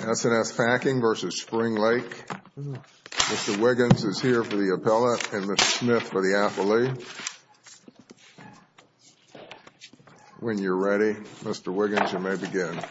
S & S Packing, Inc. v. Spring Lake Ratite Ranch, Inc. Mr. Wiggins is here for the appellate and Mr. Smith for the affiliate. When you're ready, Mr. Wiggins, you may begin. Mr. Wiggins is here for the affiliate.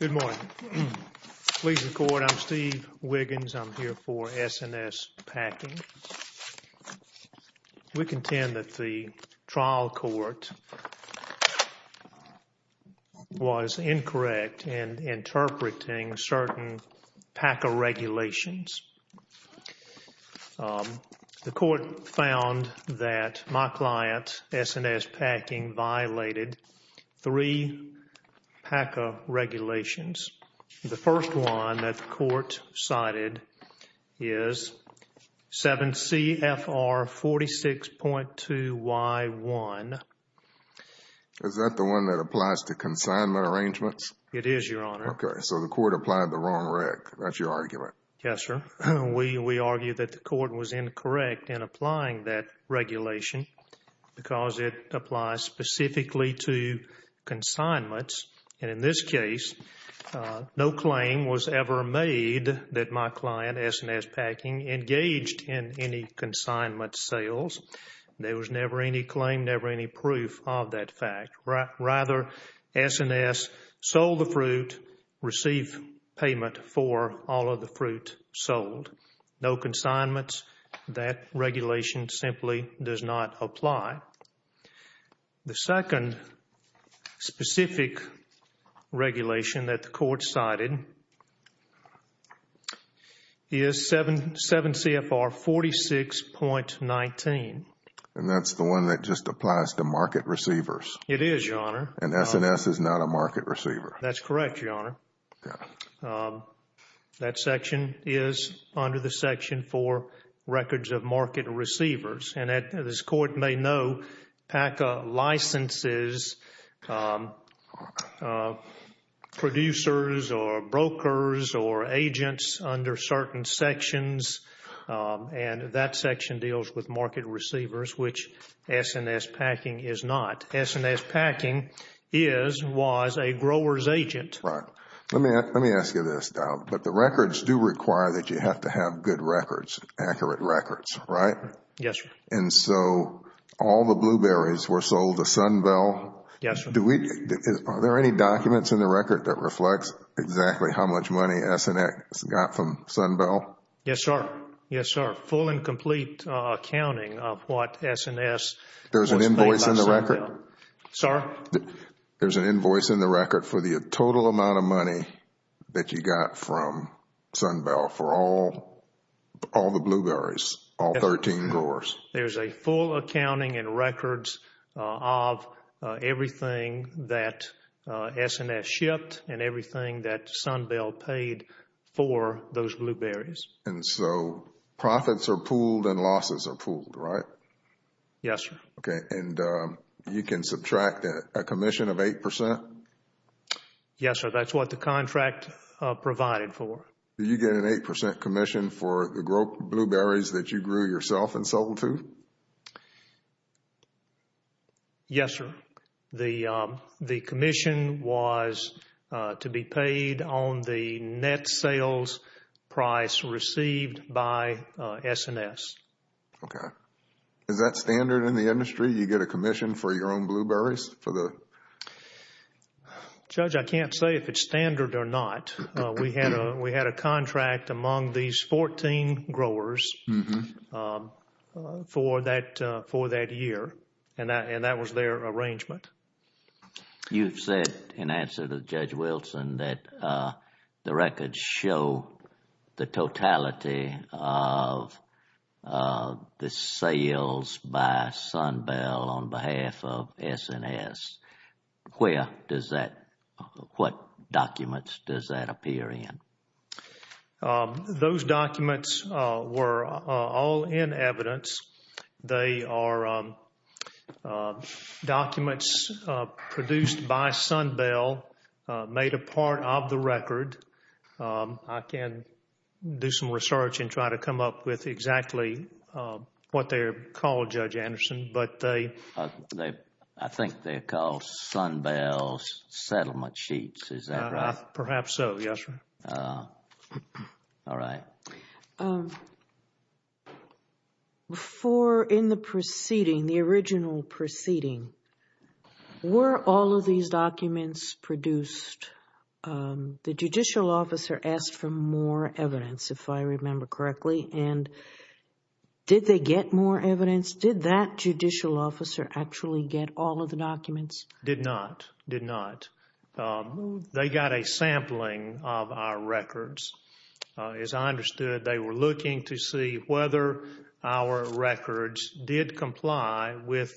Good morning. Please record. I'm Steve Wiggins. I'm here for S & S Packing. We contend that the trial court was incorrect in interpreting certain PACA regulations. The court found that my client, S & S Packing, violated three PACA regulations. The first one that the court cited is 7 CFR 46.2Y1. Is that the one that applies to consignment arrangements? It is, Your Honor. Okay, so the court applied the wrong reg. That's your argument? Yes, sir. We argue that the court was incorrect in applying that regulation because it applies specifically to consignments. And in this case, no claim was ever made that my client, S & S Packing, engaged in any consignment sales. There was never any claim, never any proof of that fact. Rather, S & S sold the fruit, received payment for all of the fruit sold. No consignments. That regulation simply does not apply. The second specific regulation that the court cited is 7 CFR 46.19. And that's the one that just applies to market receivers? It is, Your Honor. And S & S is not a market receiver? That's correct, Your Honor. That section is under the section for records of market receivers. And as this court may know, PACA licenses producers or brokers or agents under certain sections. And that section deals with market receivers, which S & S Packing is not. S & S Packing is, was, a grower's agent. Right. Let me ask you this, Dow. But the records do require that you have to have good records, accurate records, right? Yes, sir. And so all the blueberries were sold to Sunbell? Yes, sir. Are there any documents in the record that reflects exactly how much money S & S got from Sunbell? Yes, sir. Yes, sir. Full and complete accounting of what S & S was paid by Sunbell. There's an invoice in the record? Sir? There's an invoice in the record for the total amount of money that you got from Sunbell for all the blueberries, all 13 growers. There's a full accounting and records of everything that S & S shipped and everything that Sunbell paid for those blueberries. And so profits are pooled and losses are pooled, right? Yes, sir. Okay. And you can subtract a commission of 8%? Yes, sir. That's what the contract provided for. Did you get an 8% commission for the blueberries that you grew yourself and sold to? Yes, sir. The commission was to be paid on the net sales price received by S & S. Okay. Is that standard in the industry? You get a commission for your own blueberries? Judge, I can't say if it's standard or not. We had a contract among these 14 growers for that year, and that was their arrangement. You've said in answer to Judge Wilson that the records show the totality of the sales by Sunbell on behalf of S & S. Where does that, what documents does that appear in? Those documents were all in evidence. They are documents produced by Sunbell, made a part of the record. I can do some research and try to come up with exactly what they're called, Judge Anderson, but they... I think they're called Sunbell's settlement sheets. Is that right? Perhaps so, yes, ma'am. All right. Before, in the proceeding, the original proceeding, were all of these documents produced? The judicial officer asked for more evidence, if I remember correctly, and did they get more evidence? Did that judicial officer actually get all of the documents? Did not, did not. They got a sampling of our records. As I understood, they were looking to see whether our records did comply with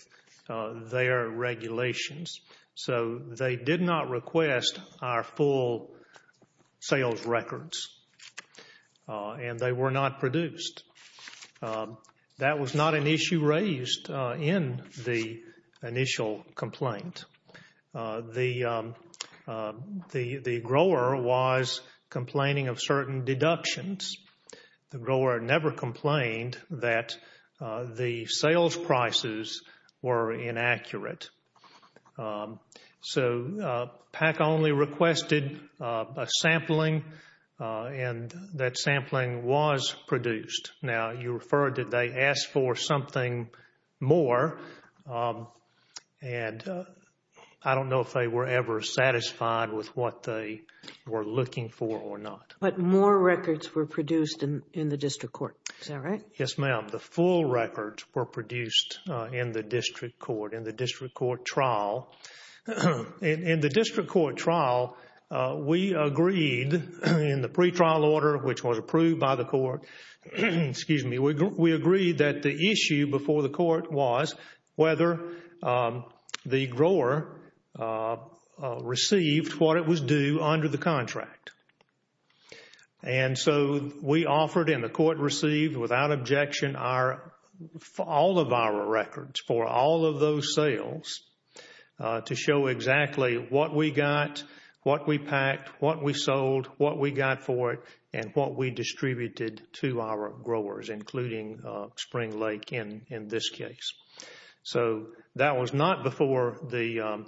their regulations. So they did not request our full sales records, and they were not produced. That was not an issue raised in the initial complaint. The grower was complaining of certain deductions. The grower never complained that the sales prices were inaccurate. So PAC only requested a sampling, and that sampling was produced. Now, you referred to they asked for something more, and I don't know if they were ever satisfied with what they were looking for or not. But more records were produced in the district court. Is that right? Yes, ma'am. The full records were produced in the district court, in the district court trial. In the district court trial, we agreed in the pretrial order, which was approved by the court, we agreed that the issue before the court was whether the grower received what it was due under the contract. And so we offered and the court received, without objection, all of our records for all of those sales to show exactly what we got, what we packed, what we sold, what we got for it, and what we distributed to our growers, including Spring Lake in this case. So that was not before the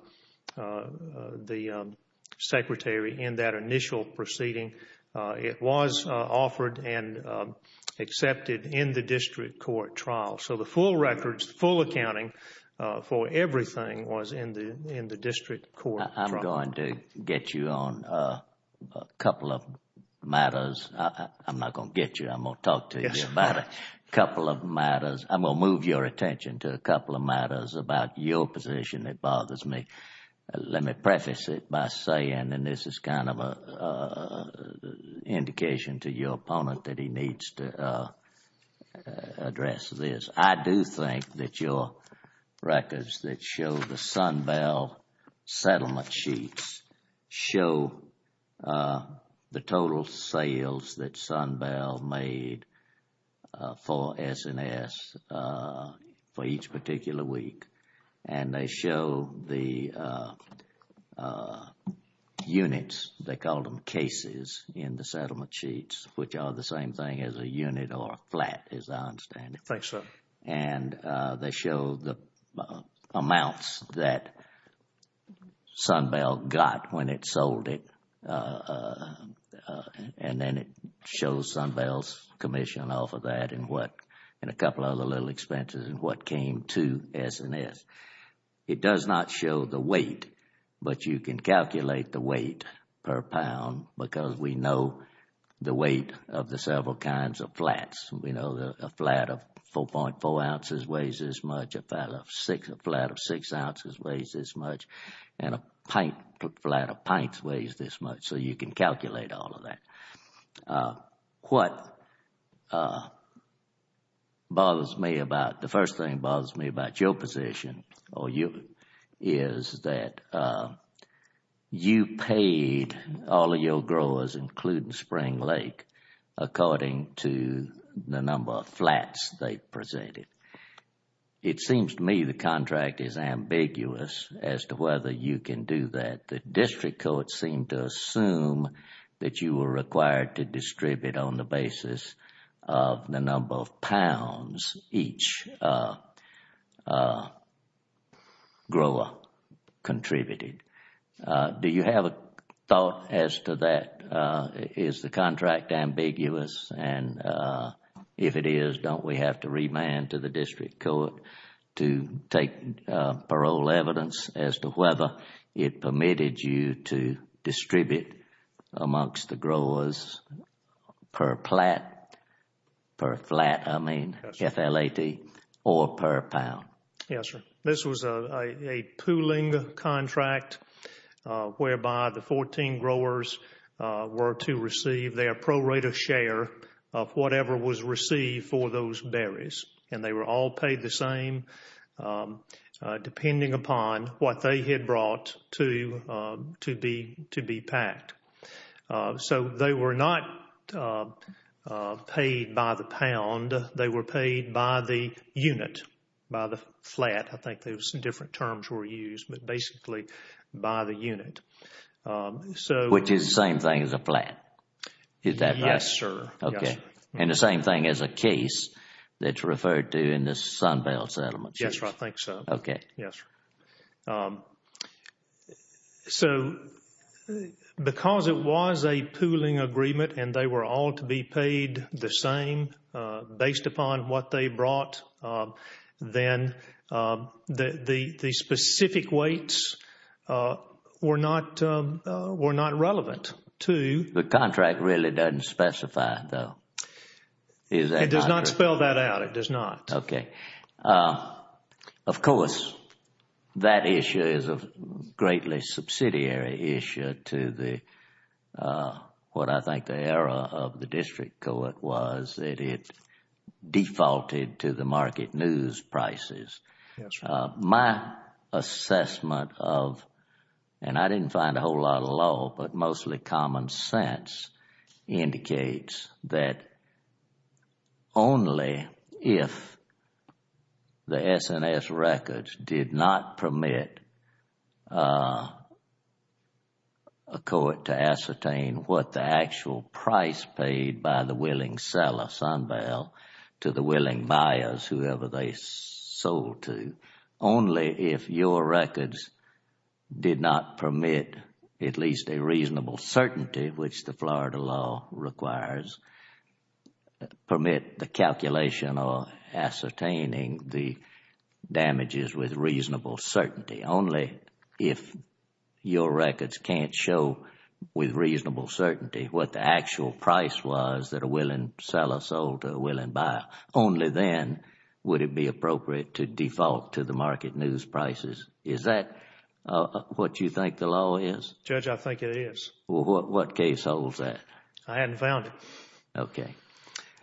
secretary in that initial proceeding. It was offered and accepted in the district court trial. So the full records, the full accounting for everything was in the district court trial. I'm going to get you on a couple of matters. I'm not going to get you. I'm going to talk to you about a couple of matters. I'm going to move your attention to a couple of matters about your position that bothers me. Let me preface it by saying, and this is kind of an indication to your opponent that he needs to address this. I do think that your records that show the Sunbell settlement sheets show the total sales that Sunbell made for S&S for each particular week, and they show the units, they call them cases, in the settlement sheets, which are the same thing as a unit or a flat, as I understand it. Right, sir. And they show the amounts that Sunbell got when it sold it, and then it shows Sunbell's commission off of that and a couple of other little expenses and what came to S&S. It does not show the weight, but you can calculate the weight per pound because we know the weight of the several kinds of flats. We know a flat of 4.4 ounces weighs this much, a flat of 6 ounces weighs this much, and a flat of pints weighs this much, so you can calculate all of that. What bothers me about, the first thing that bothers me about your position is that you paid all of your growers, including Spring Lake, according to the number of flats they presented. It seems to me the contract is ambiguous as to whether you can do that. The district courts seem to assume that you were required to distribute on the basis of the number of pounds each grower contributed. Do you have a thought as to that? Is the contract ambiguous, and if it is, don't we have to remand to the district court to take parole evidence as to whether it permitted you to distribute amongst the growers per flat, I mean F-L-A-T, or per pound? Yes, sir. This was a pooling contract whereby the 14 growers were to receive their prorated share of whatever was received for those berries, and they were all paid the same depending upon what they had brought to be packed. So they were not paid by the pound, they were paid by the unit, by the flat, I think those different terms were used, but basically by the unit. Which is the same thing as a flat, is that right? Yes, sir. Okay, and the same thing as a case that's referred to in the Sunbell settlement. Yes, sir, I think so. Okay. Yes, sir. So because it was a pooling agreement and they were all to be paid the same based upon what they brought, then the specific weights were not relevant to— The contract really doesn't specify, though. It does not spell that out, it does not. Okay. Of course, that issue is a greatly subsidiary issue to what I think the error of the district court was that it defaulted to the market news prices. Yes, sir. My assessment of, and I didn't find a whole lot of law, but mostly common sense, indicates that only if the S&S records did not permit a court to ascertain what the actual price paid by the willing seller, Sunbell, to the willing buyers, whoever they sold to, only if your records did not permit at least a reasonable certainty, which the Florida law requires, permit the calculation or ascertaining the damages with reasonable certainty. Only if your records can't show with reasonable certainty what the actual price was that a willing seller sold to a willing buyer, only then would it be appropriate to default to the market news prices. Is that what you think the law is? Judge, I think it is. What case holds that? I haven't found it. Okay.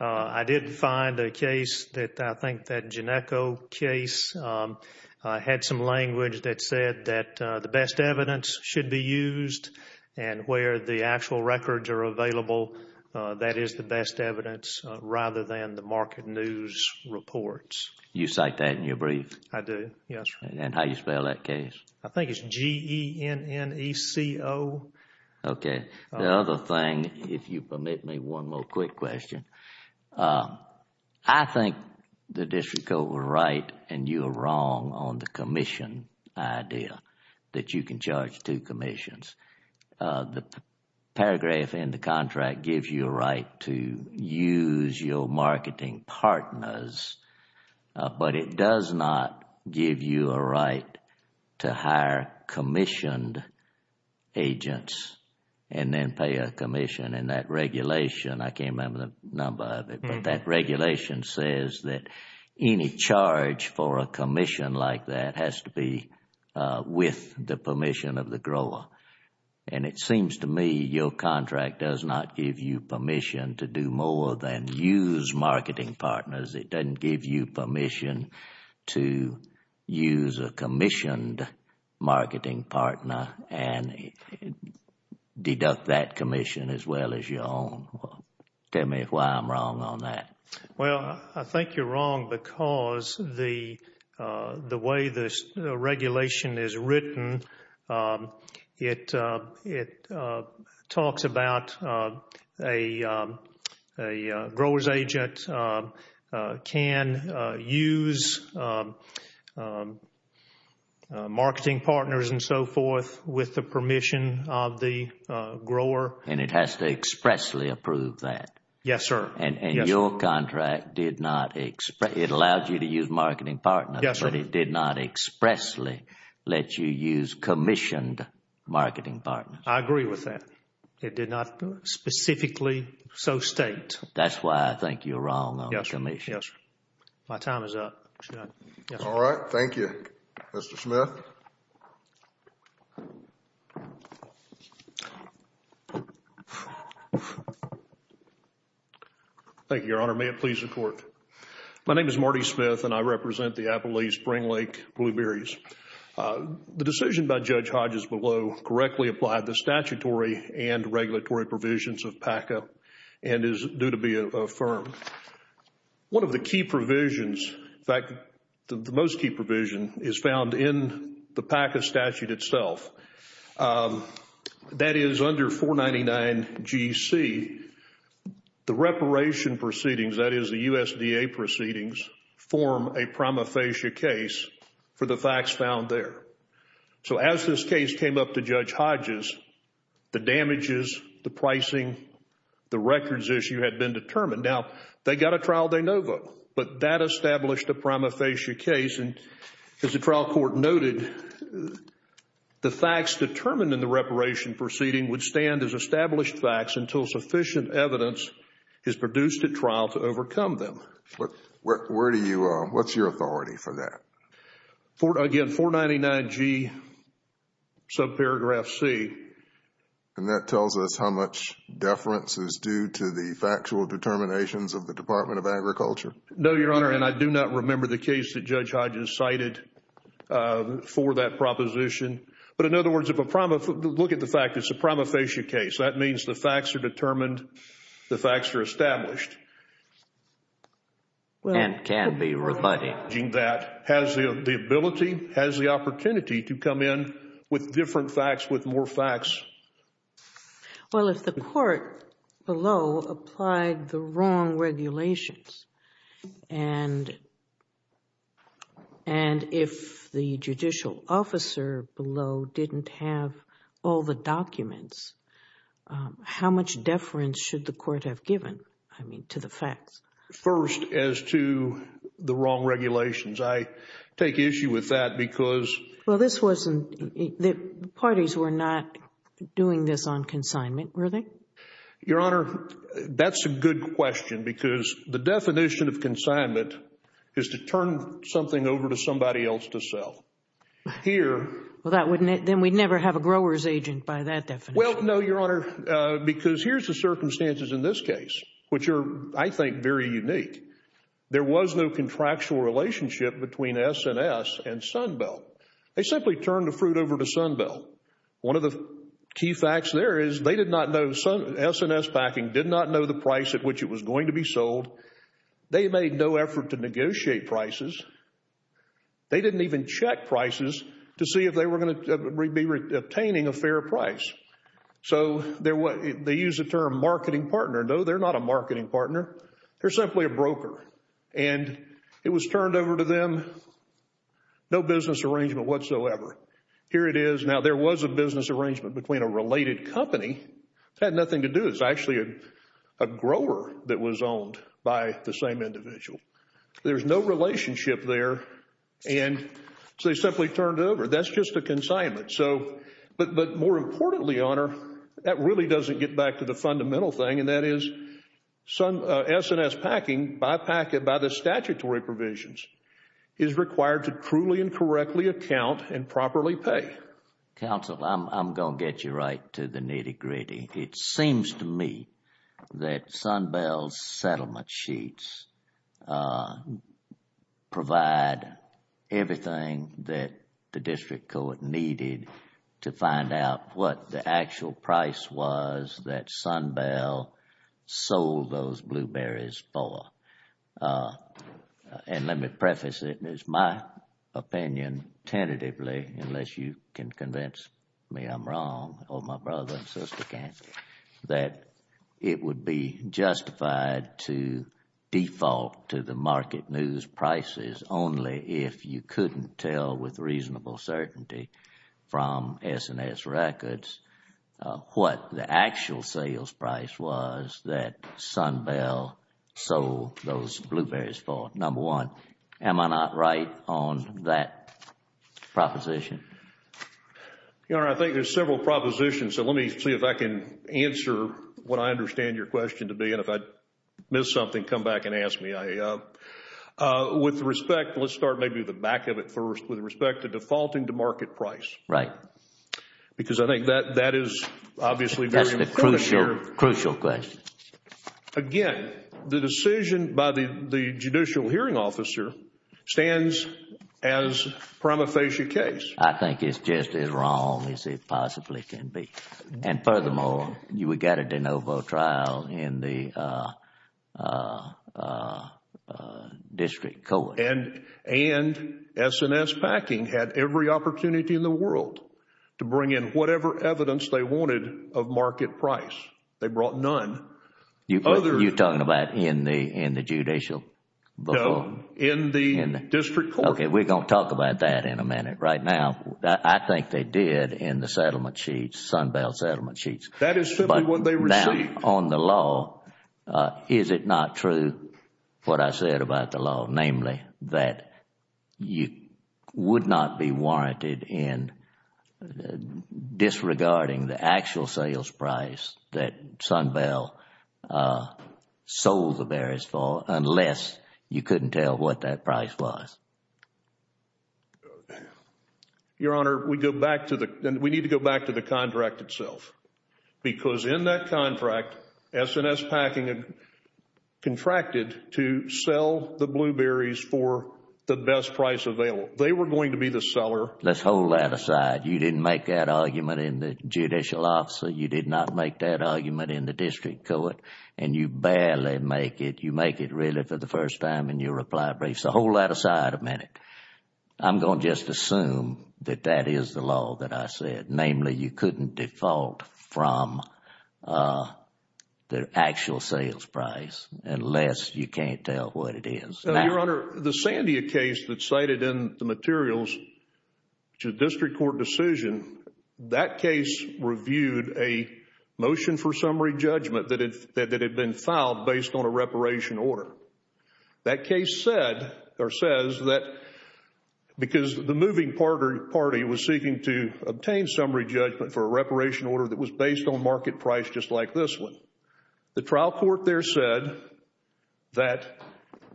I didn't find a case that I think that Ginecco case had some language that said that the best evidence should be used and where the actual records are available, that is the best evidence rather than the market news reports. You cite that in your brief? I do, yes, sir. And how do you spell that case? I think it's G-E-N-N-E-C-O. Okay. The other thing, if you permit me one more quick question, I think the district court was right and you were wrong on the commission idea that you can charge two commissions. The paragraph in the contract gives you a right to use your marketing partners, but it does not give you a right to hire commissioned agents and then pay a commission. I can't remember the number of it, but that regulation says that any charge for a commission like that has to be with the permission of the grower. It seems to me your contract does not give you permission to do more than use marketing partners. It doesn't give you permission to use a commissioned marketing partner and deduct that commission as well as your own. Tell me why I'm wrong on that. Well, I think you're wrong because the way the regulation is written, it talks about a grower's agent can use marketing partners and so forth with the permission of the grower. And it has to expressly approve that? Yes, sir. And your contract did not expressly, it allowed you to use marketing partners, but it did not expressly let you use commissioned marketing partners. I agree with that. It did not specifically so state. That's why I think you're wrong on the commission. Yes, sir. My time is up. All right. Thank you, Mr. Smith. Thank you, Your Honor. May it please the Court. My name is Marty Smith and I represent the Appalachee Spring Lake Blueberries. The decision by Judge Hodges below correctly applied the statutory and regulatory provisions of PACA and is due to be affirmed. One of the key provisions, in fact, the most key provision is found in the PACA statute itself. That is under 499 G.C., the reparation proceedings, that is the USDA proceedings, form a prima facie case for the facts found there. So as this case came up to Judge Hodges, the damages, the pricing, the records issue had been determined. Now, they got a trial de novo, but that established a prima facie case. As the trial court noted, the facts determined in the reparation proceeding would stand as established facts until sufficient evidence is produced at trial to overcome them. What's your authority for that? Again, 499 G, subparagraph C. And that tells us how much deference is due to the factual determinations of the Department of Agriculture? No, Your Honor, and I do not remember the case that Judge Hodges cited for that proposition. But in other words, look at the fact it's a prima facie case. That means the facts are determined, the facts are established. And can be rebutted. Has the ability, has the opportunity to come in with different facts, with more facts. Well, if the court below applied the wrong regulations, and if the judicial officer below didn't have all the documents, how much deference should the court have given, I mean, to the facts? First, as to the wrong regulations. I take issue with that because Well, this wasn't, the parties were not doing this on consignment, were they? Your Honor, that's a good question because the definition of consignment is to turn something over to somebody else to sell. Here, Well, then we'd never have a grower's agent by that definition. Well, no, Your Honor, because here's the circumstances in this case, which are, I think, very unique. There was no contractual relationship between S&S and Sunbelt. They simply turned the fruit over to Sunbelt. One of the key facts there is they did not know, S&S Packing did not know the price at which it was going to be sold. They made no effort to negotiate prices. They didn't even check prices to see if they were going to be obtaining a fair price. So, they use the term marketing partner. No, they're not a marketing partner. They're simply a broker, and it was turned over to them. No business arrangement whatsoever. Here it is. Now, there was a business arrangement between a related company. It had nothing to do, it's actually a grower that was owned by the same individual. There's no relationship there, and so they simply turned it over. That's just a consignment. So, but more importantly, Your Honor, that really doesn't get back to the fundamental thing, and that is S&S Packing, by the statutory provisions, is required to truly and correctly account and properly pay. Counsel, I'm going to get you right to the nitty-gritty. It seems to me that Sunbell's settlement sheets provide everything that the district court needed to find out what the actual price was that Sunbell sold those blueberries for. And let me preface it, it's my opinion tentatively, unless you can convince me I'm wrong, or my brother and sister can, that it would be justified to default to the market news prices only if you couldn't tell with reasonable certainty from S&S records what the actual sales price was that Sunbell sold those blueberries for, number one. Am I not right on that proposition? Your Honor, I think there's several propositions, so let me see if I can answer what I understand your question to be, and if I miss something, come back and ask me. With respect, let's start maybe with the back of it first, with respect to defaulting to market price. Right. Because I think that is obviously very important. That's the crucial question. Again, the decision by the judicial hearing officer stands as a prima facie case. I think it's just as wrong as it possibly can be. And furthermore, we got a de novo trial in the district court. And S&S Packing had every opportunity in the world to bring in whatever evidence they wanted of market price. They brought none. You're talking about in the judicial? No, in the district court. Okay, we're going to talk about that in a minute. Right now, I think they did in the settlement sheets, Sunbell settlement sheets. That is simply what they received. On the law, is it not true what I said about the law, namely that you would not be warranted in disregarding the actual sales price that Sunbell sold the berries for unless you couldn't tell what that price was? Your Honor, we need to go back to the contract itself. Because in that contract, S&S Packing contracted to sell the blueberries for the best price available. They were going to be the seller. Let's hold that aside. You didn't make that argument in the judicial officer. You did not make that argument in the district court. And you barely make it. You make it really for the first time in your reply brief. So hold that aside a minute. I'm going to just assume that that is the law that I said. Namely, you couldn't default from the actual sales price unless you can't tell what it is. Your Honor, the Sandia case that's cited in the materials to district court decision, that case reviewed a motion for summary judgment that had been filed based on a reparation order. That case said or says that because the moving party was seeking to obtain summary judgment for a reparation order that was based on market price just like this one. The trial court there said that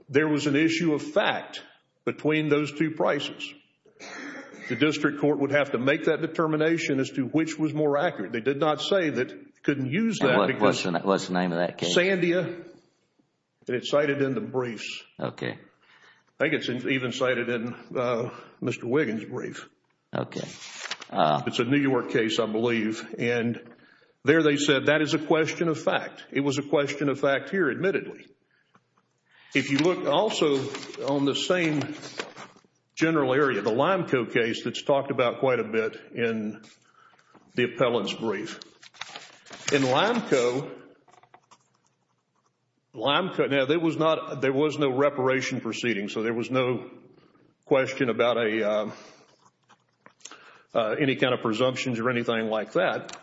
there was an issue of fact between those two prices. The district court would have to make that determination as to which was more accurate. They did not say that they couldn't use that. What's the name of that case? Sandia. And it's cited in the briefs. Okay. I think it's even cited in Mr. Wiggins' brief. Okay. It's a New York case, I believe. And there they said that is a question of fact. It was a question of fact here, admittedly. If you look also on the same general area, the Limco case that's talked about quite a bit in the appellant's brief. In Limco, there was no reparation proceeding. So there was no question about any kind of presumptions or anything like that.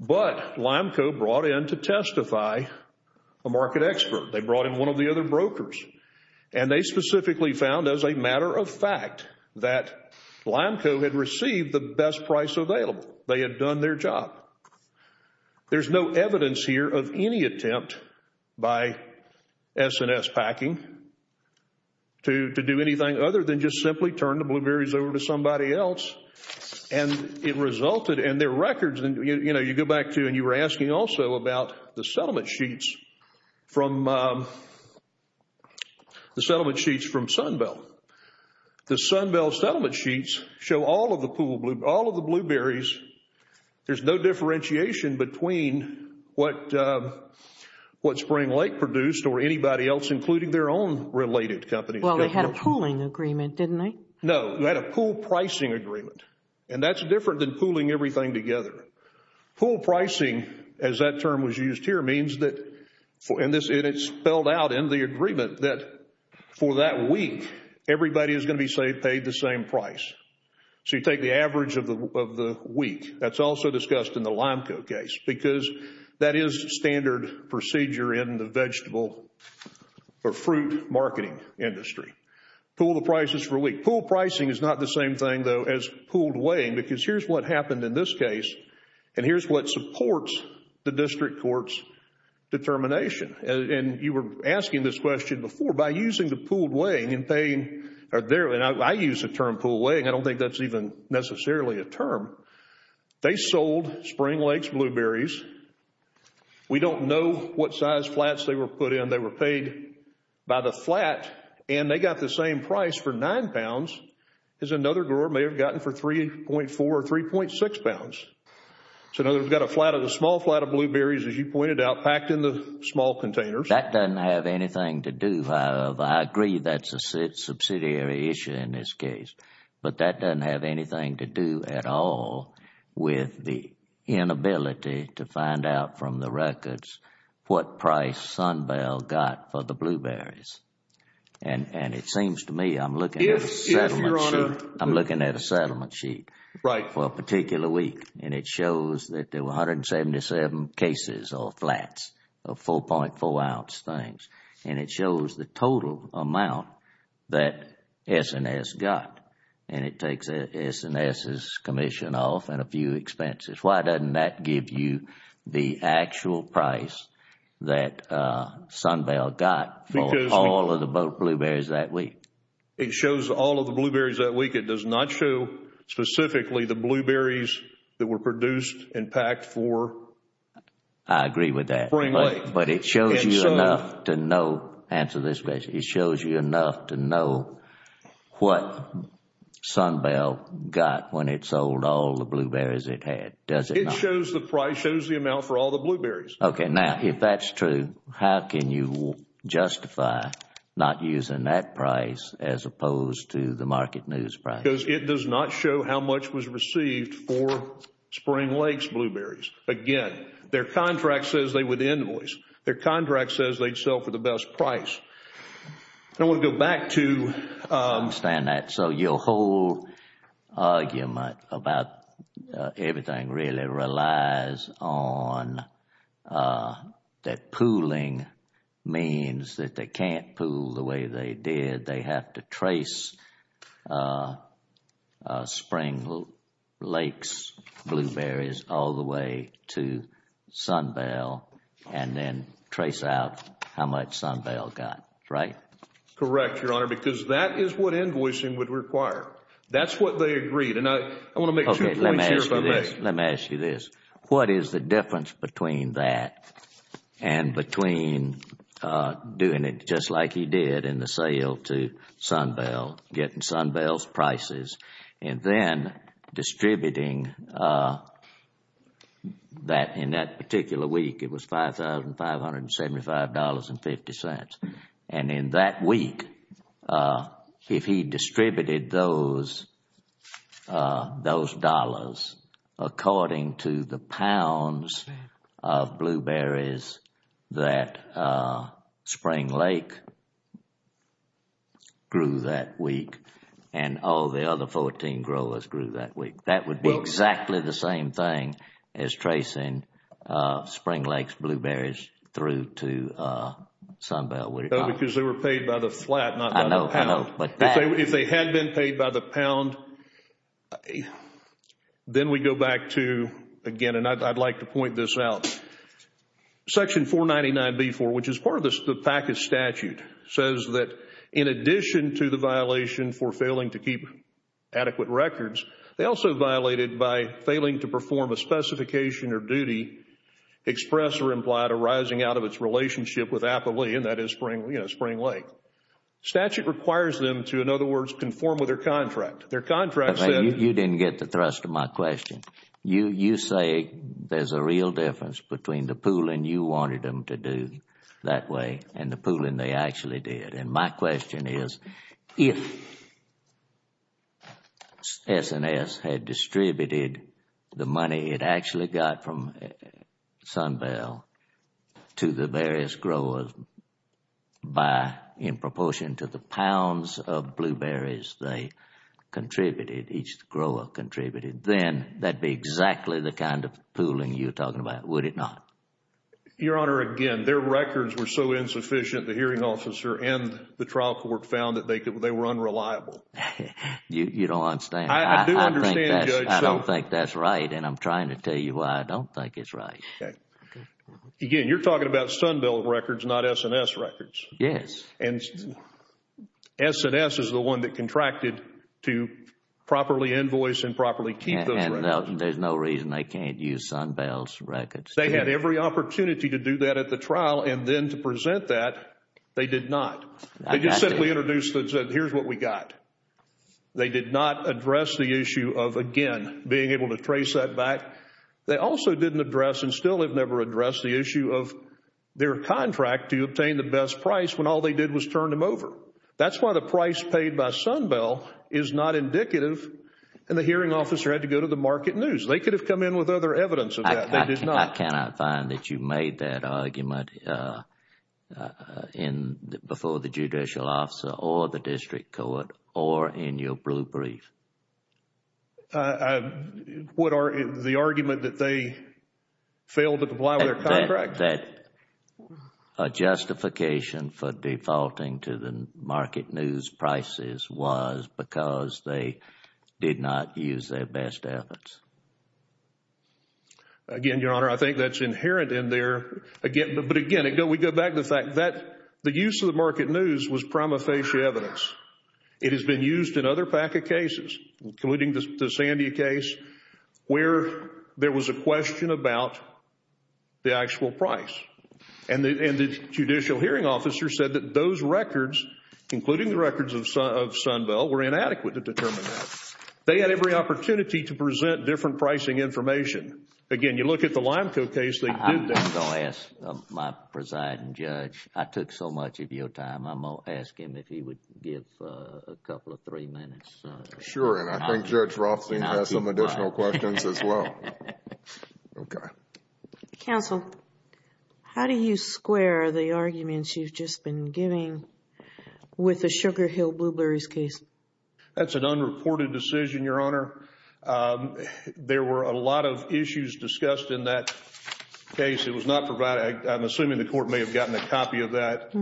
But Limco brought in to testify a market expert. They brought in one of the other brokers. And they specifically found as a matter of fact that Limco had received the best price available. They had done their job. There's no evidence here of any attempt by S&S Packing to do anything other than just simply turn the blueberries over to somebody else. And it resulted in their records. And, you know, you go back to and you were asking also about the settlement sheets from SunBell. The SunBell settlement sheets show all of the blueberries. There's no differentiation between what Spring Lake produced or anybody else, including their own related companies. Well, they had a pooling agreement, didn't they? No. They had a pool pricing agreement. And that's different than pooling everything together. Pool pricing, as that term was used here, means that, and it's spelled out in the agreement, that for that week, everybody is going to be paid the same price. So you take the average of the week. That's also discussed in the Limco case because that is standard procedure in the vegetable or fruit marketing industry. Pool the prices for a week. Pool pricing is not the same thing, though, as pooled weighing because here's what happened in this case. And here's what supports the district court's determination. And you were asking this question before. By using the pooled weighing and paying, and I use the term pooled weighing. I don't think that's even necessarily a term. They sold Spring Lake's blueberries. We don't know what size flats they were put in. They were paid by the flat and they got the same price for nine pounds as another grower may have gotten for 3.4 or 3.6 pounds. So now we've got a small flat of blueberries, as you pointed out, packed in the small containers. That doesn't have anything to do. I agree that's a subsidiary issue in this case. But that doesn't have anything to do at all with the inability to find out from the records what price Sunbell got for the blueberries. And it seems to me I'm looking at a settlement sheet. I'm looking at a settlement sheet for a particular week. And it shows that there were 177 cases or flats of 4.4 ounce things. And it shows the total amount that S&S got. And it takes S&S's commission off and a few expenses. Why doesn't that give you the actual price that Sunbell got for all of the blueberries that week? It shows all of the blueberries that week. It does not show specifically the blueberries that were produced and packed for Spring Lake. I agree with that. But it shows you enough to know. Answer this question. It shows you enough to know what Sunbell got when it sold all the blueberries it had, does it not? It shows the price, shows the amount for all the blueberries. Okay, now if that's true, how can you justify not using that price as opposed to the market news price? Because it does not show how much was received for Spring Lake's blueberries. Again, their contract says they would invoice. Their contract says they'd sell for the best price. And we'll go back to I understand that. So your whole argument about everything really relies on that pooling means that they can't pool the way they did. They have to trace Spring Lake's blueberries all the way to Sunbell and then trace out how much Sunbell got, right? Correct, Your Honor, because that is what invoicing would require. That's what they agreed. And I want to make two points here if I may. Let me ask you this. What is the difference between that and between doing it just like he did in the sale to Sunbell, getting Sunbell's prices, and then distributing that in that particular week, it was $5,575.50. And in that week, if he distributed those dollars according to the pounds of blueberries that Spring Lake grew that week and all the other 14 growers grew that week, that would be exactly the same thing as tracing Spring Lake's blueberries through to Sunbell, would it not? No, because they were paid by the flat, not by the pound. I know, I know, but that If they had been paid by the pound, then we go back to, again, and I'd like to point this out. Section 499B4, which is part of the PACA statute, says that in addition to the violation for failing to keep adequate records, they also violated by failing to perform a specification or duty expressed or implied arising out of its relationship with Appalachian, that is Spring Lake. Statute requires them to, in other words, conform with their contract. Their contract said You didn't get the thrust of my question. You say there's a real difference between the pooling you wanted them to do that way and the pooling they actually did. And my question is, if S&S had distributed the money it actually got from Sunbell to the various growers by in proportion to the pounds of blueberries they contributed, each grower contributed, then that would be exactly the kind of pooling you're talking about, would it not? Your Honor, again, their records were so insufficient, the hearing officer and the trial court found that they were unreliable. You don't understand. I do understand, Judge. I don't think that's right, and I'm trying to tell you why I don't think it's right. Again, you're talking about Sunbell records, not S&S records. Yes. And S&S is the one that contracted to properly invoice and properly keep those records. And there's no reason they can't use Sunbell's records. They had every opportunity to do that at the trial, and then to present that, they did not. They just simply introduced it and said, here's what we got. They did not address the issue of, again, being able to trace that back. They also didn't address and still have never addressed the issue of their contract to obtain the best price when all they did was turn them over. That's why the price paid by Sunbell is not indicative, and the hearing officer had to go to the market news. They could have come in with other evidence of that. They did not. I cannot find that you made that argument before the judicial officer or the district court or in your blue brief. The argument that they failed to comply with their contract? That a justification for defaulting to the market news prices was because they did not use their best efforts. Again, Your Honor, I think that's inherent in there. But again, we go back to the fact that the use of the market news was prima facie evidence. It has been used in other PACA cases, including the Sandia case, where there was a question about the actual price. And the judicial hearing officer said that those records, including the records of Sunbell, were inadequate to determine that. They had every opportunity to present different pricing information. Again, you look at the Limeco case, they did that. I'm going to ask my presiding judge, I took so much of your time, I'm going to ask him if he would give a couple of three minutes. Sure, and I think Judge Rothstein has some additional questions as well. Okay. Counsel, how do you square the arguments you've just been giving with the Sugar Hill Blueberries case? That's an unreported decision, Your Honor. There were a lot of issues discussed in that case. It was not provided. I'm assuming the court may have gotten a copy of that.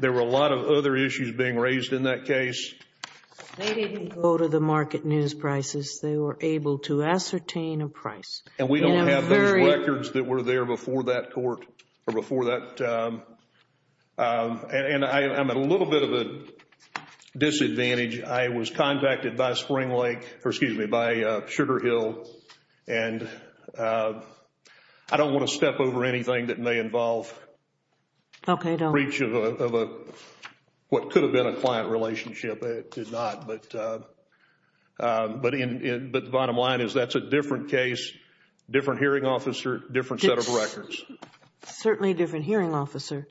There were a lot of other issues being raised in that case. They didn't go to the market news prices. They were able to ascertain a price. And we don't have those records that were there before that court, or before that. And I'm at a little bit of a disadvantage. I was contacted by Sugar Hill, and I don't want to step over anything that may involve breach of what could have been a client relationship. It did not. But the bottom line is that's a different case, different hearing officer, different set of records. It's certainly a different hearing officer.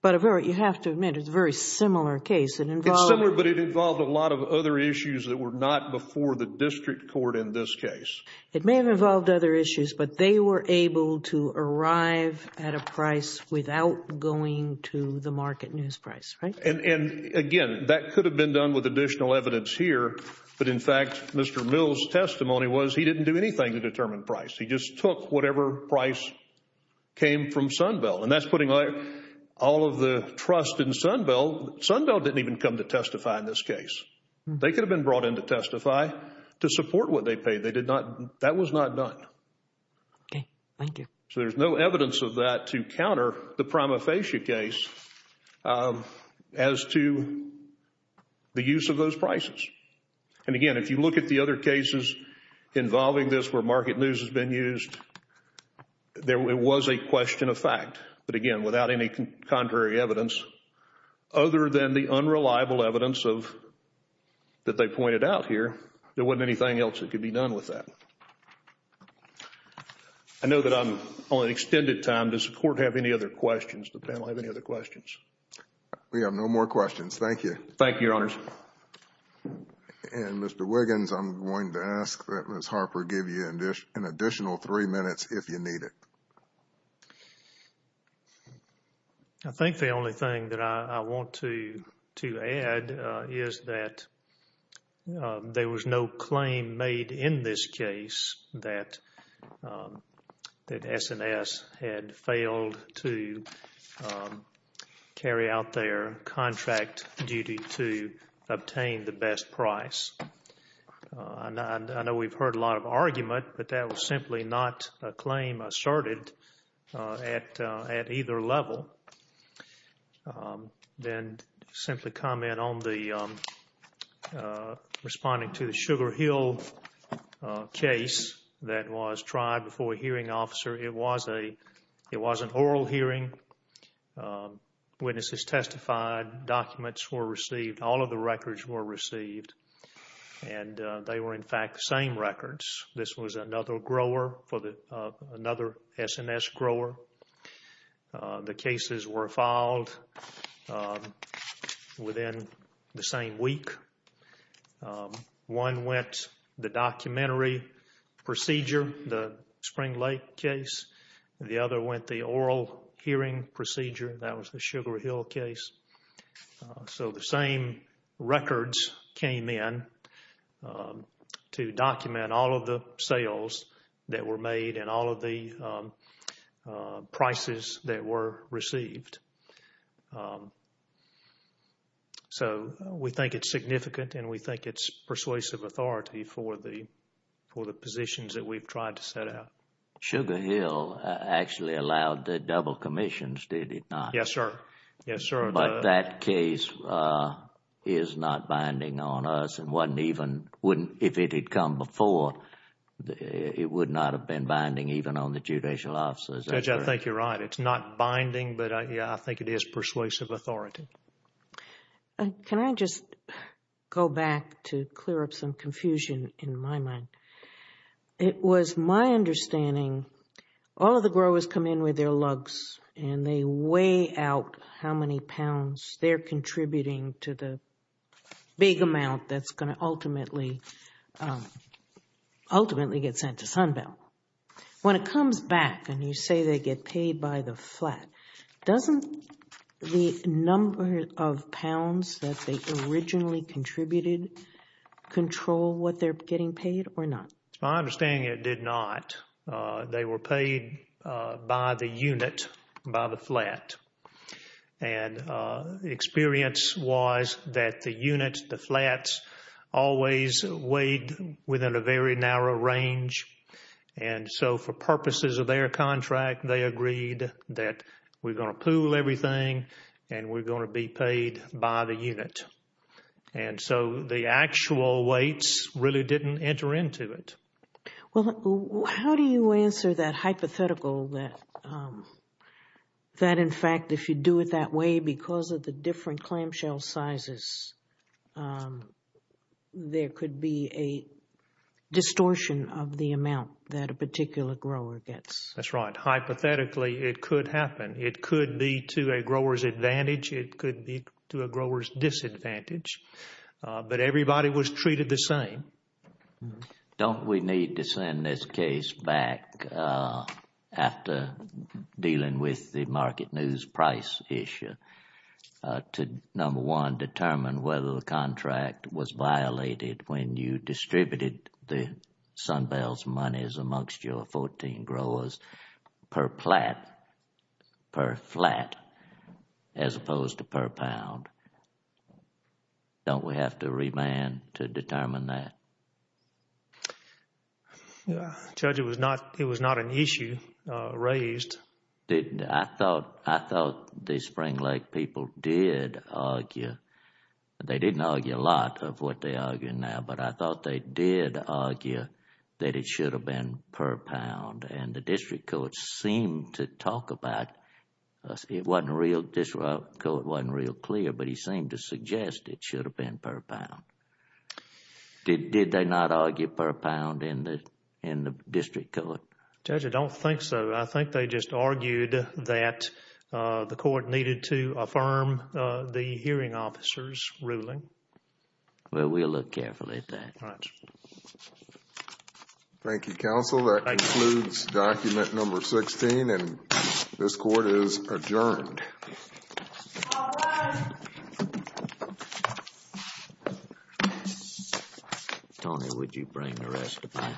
But you have to admit, it's a very similar case. It's similar, but it involved a lot of other issues that were not before the district court in this case. It may have involved other issues, but they were able to arrive at a price without going to the market news price, right? And again, that could have been done with additional evidence here. But in fact, Mr. Mills' testimony was he didn't do anything to determine price. He just took whatever price came from Sunbell. And that's putting all of the trust in Sunbell. Sunbell didn't even come to testify in this case. They could have been brought in to testify to support what they paid. Okay. Thank you. So there's no evidence of that to counter the Prima Facie case as to the use of those prices. And again, if you look at the other cases involving this where market news has been used, it was a question of fact. But again, without any contrary evidence, other than the unreliable evidence that they pointed out here, there wasn't anything else that could be done with that. I know that I'm on an extended time. Does the Court have any other questions? Does the panel have any other questions? We have no more questions. Thank you. Thank you, Your Honors. And Mr. Wiggins, I'm going to ask that Ms. Harper give you an additional three minutes if you need it. I think the only thing that I want to add is that there was no claim made in this case that S&S had failed to carry out their contract duty to obtain the best price. I know we've heard a lot of argument, but that was simply not a claim asserted at either level. Then simply comment on the responding to the Sugar Hill case that was tried before a hearing officer. It was an oral hearing. Witnesses testified. Documents were received. All of the records were received. And they were, in fact, the same records. This was another S&S grower. The cases were filed within the same week. One went the documentary procedure, the Spring Lake case. The other went the oral hearing procedure. That was the Sugar Hill case. So the same records came in to document all of the sales that were made and all of the prices that were received. So we think it's significant, and we think it's persuasive authority for the positions that we've tried to set out. Sugar Hill actually allowed the double commissions, did it not? Yes, sir. Yes, sir. But that case is not binding on us. It wasn't even, if it had come before, it would not have been binding even on the judicial officers. Judge, I think you're right. It's not binding, but I think it is persuasive authority. Can I just go back to clear up some confusion in my mind? It was my understanding, all of the growers come in with their lugs, and they weigh out how many pounds they're contributing to the big amount that's going to ultimately get sent to Sunbelt. When it comes back and you say they get paid by the flat, doesn't the number of pounds that they originally contributed control what they're getting paid or not? It's my understanding it did not. They were paid by the unit, by the flat. And the experience was that the unit, the flats, always weighed within a very narrow range. And so for purposes of their contract, they agreed that we're going to pool everything, and we're going to be paid by the unit. And so the actual weights really didn't enter into it. Well, how do you answer that hypothetical that, in fact, if you do it that way, because of the different clamshell sizes, there could be a distortion of the amount that a particular grower gets? That's right. Hypothetically, it could happen. It could be to a grower's advantage. It could be to a grower's disadvantage. But everybody was treated the same. Don't we need to send this case back after dealing with the market news price issue to, number one, determine whether the contract was violated when you distributed the Sunbell's monies amongst your 14 growers per flat as opposed to per pound? Don't we have to remand to determine that? Judge, it was not an issue raised. I thought the Spring Lake people did argue. They didn't argue a lot of what they argue now, but I thought they did argue that it should have been per pound. And the district court seemed to talk about it. It wasn't real clear, but he seemed to suggest it should have been per pound. Did they not argue per pound in the district court? Judge, I don't think so. I think they just argued that the court needed to affirm the hearing officer's ruling. Well, we'll look carefully at that. All right. Thank you, counsel. That concludes document number 16, and this court is adjourned. All rise. Tony, would you bring the rest of my things?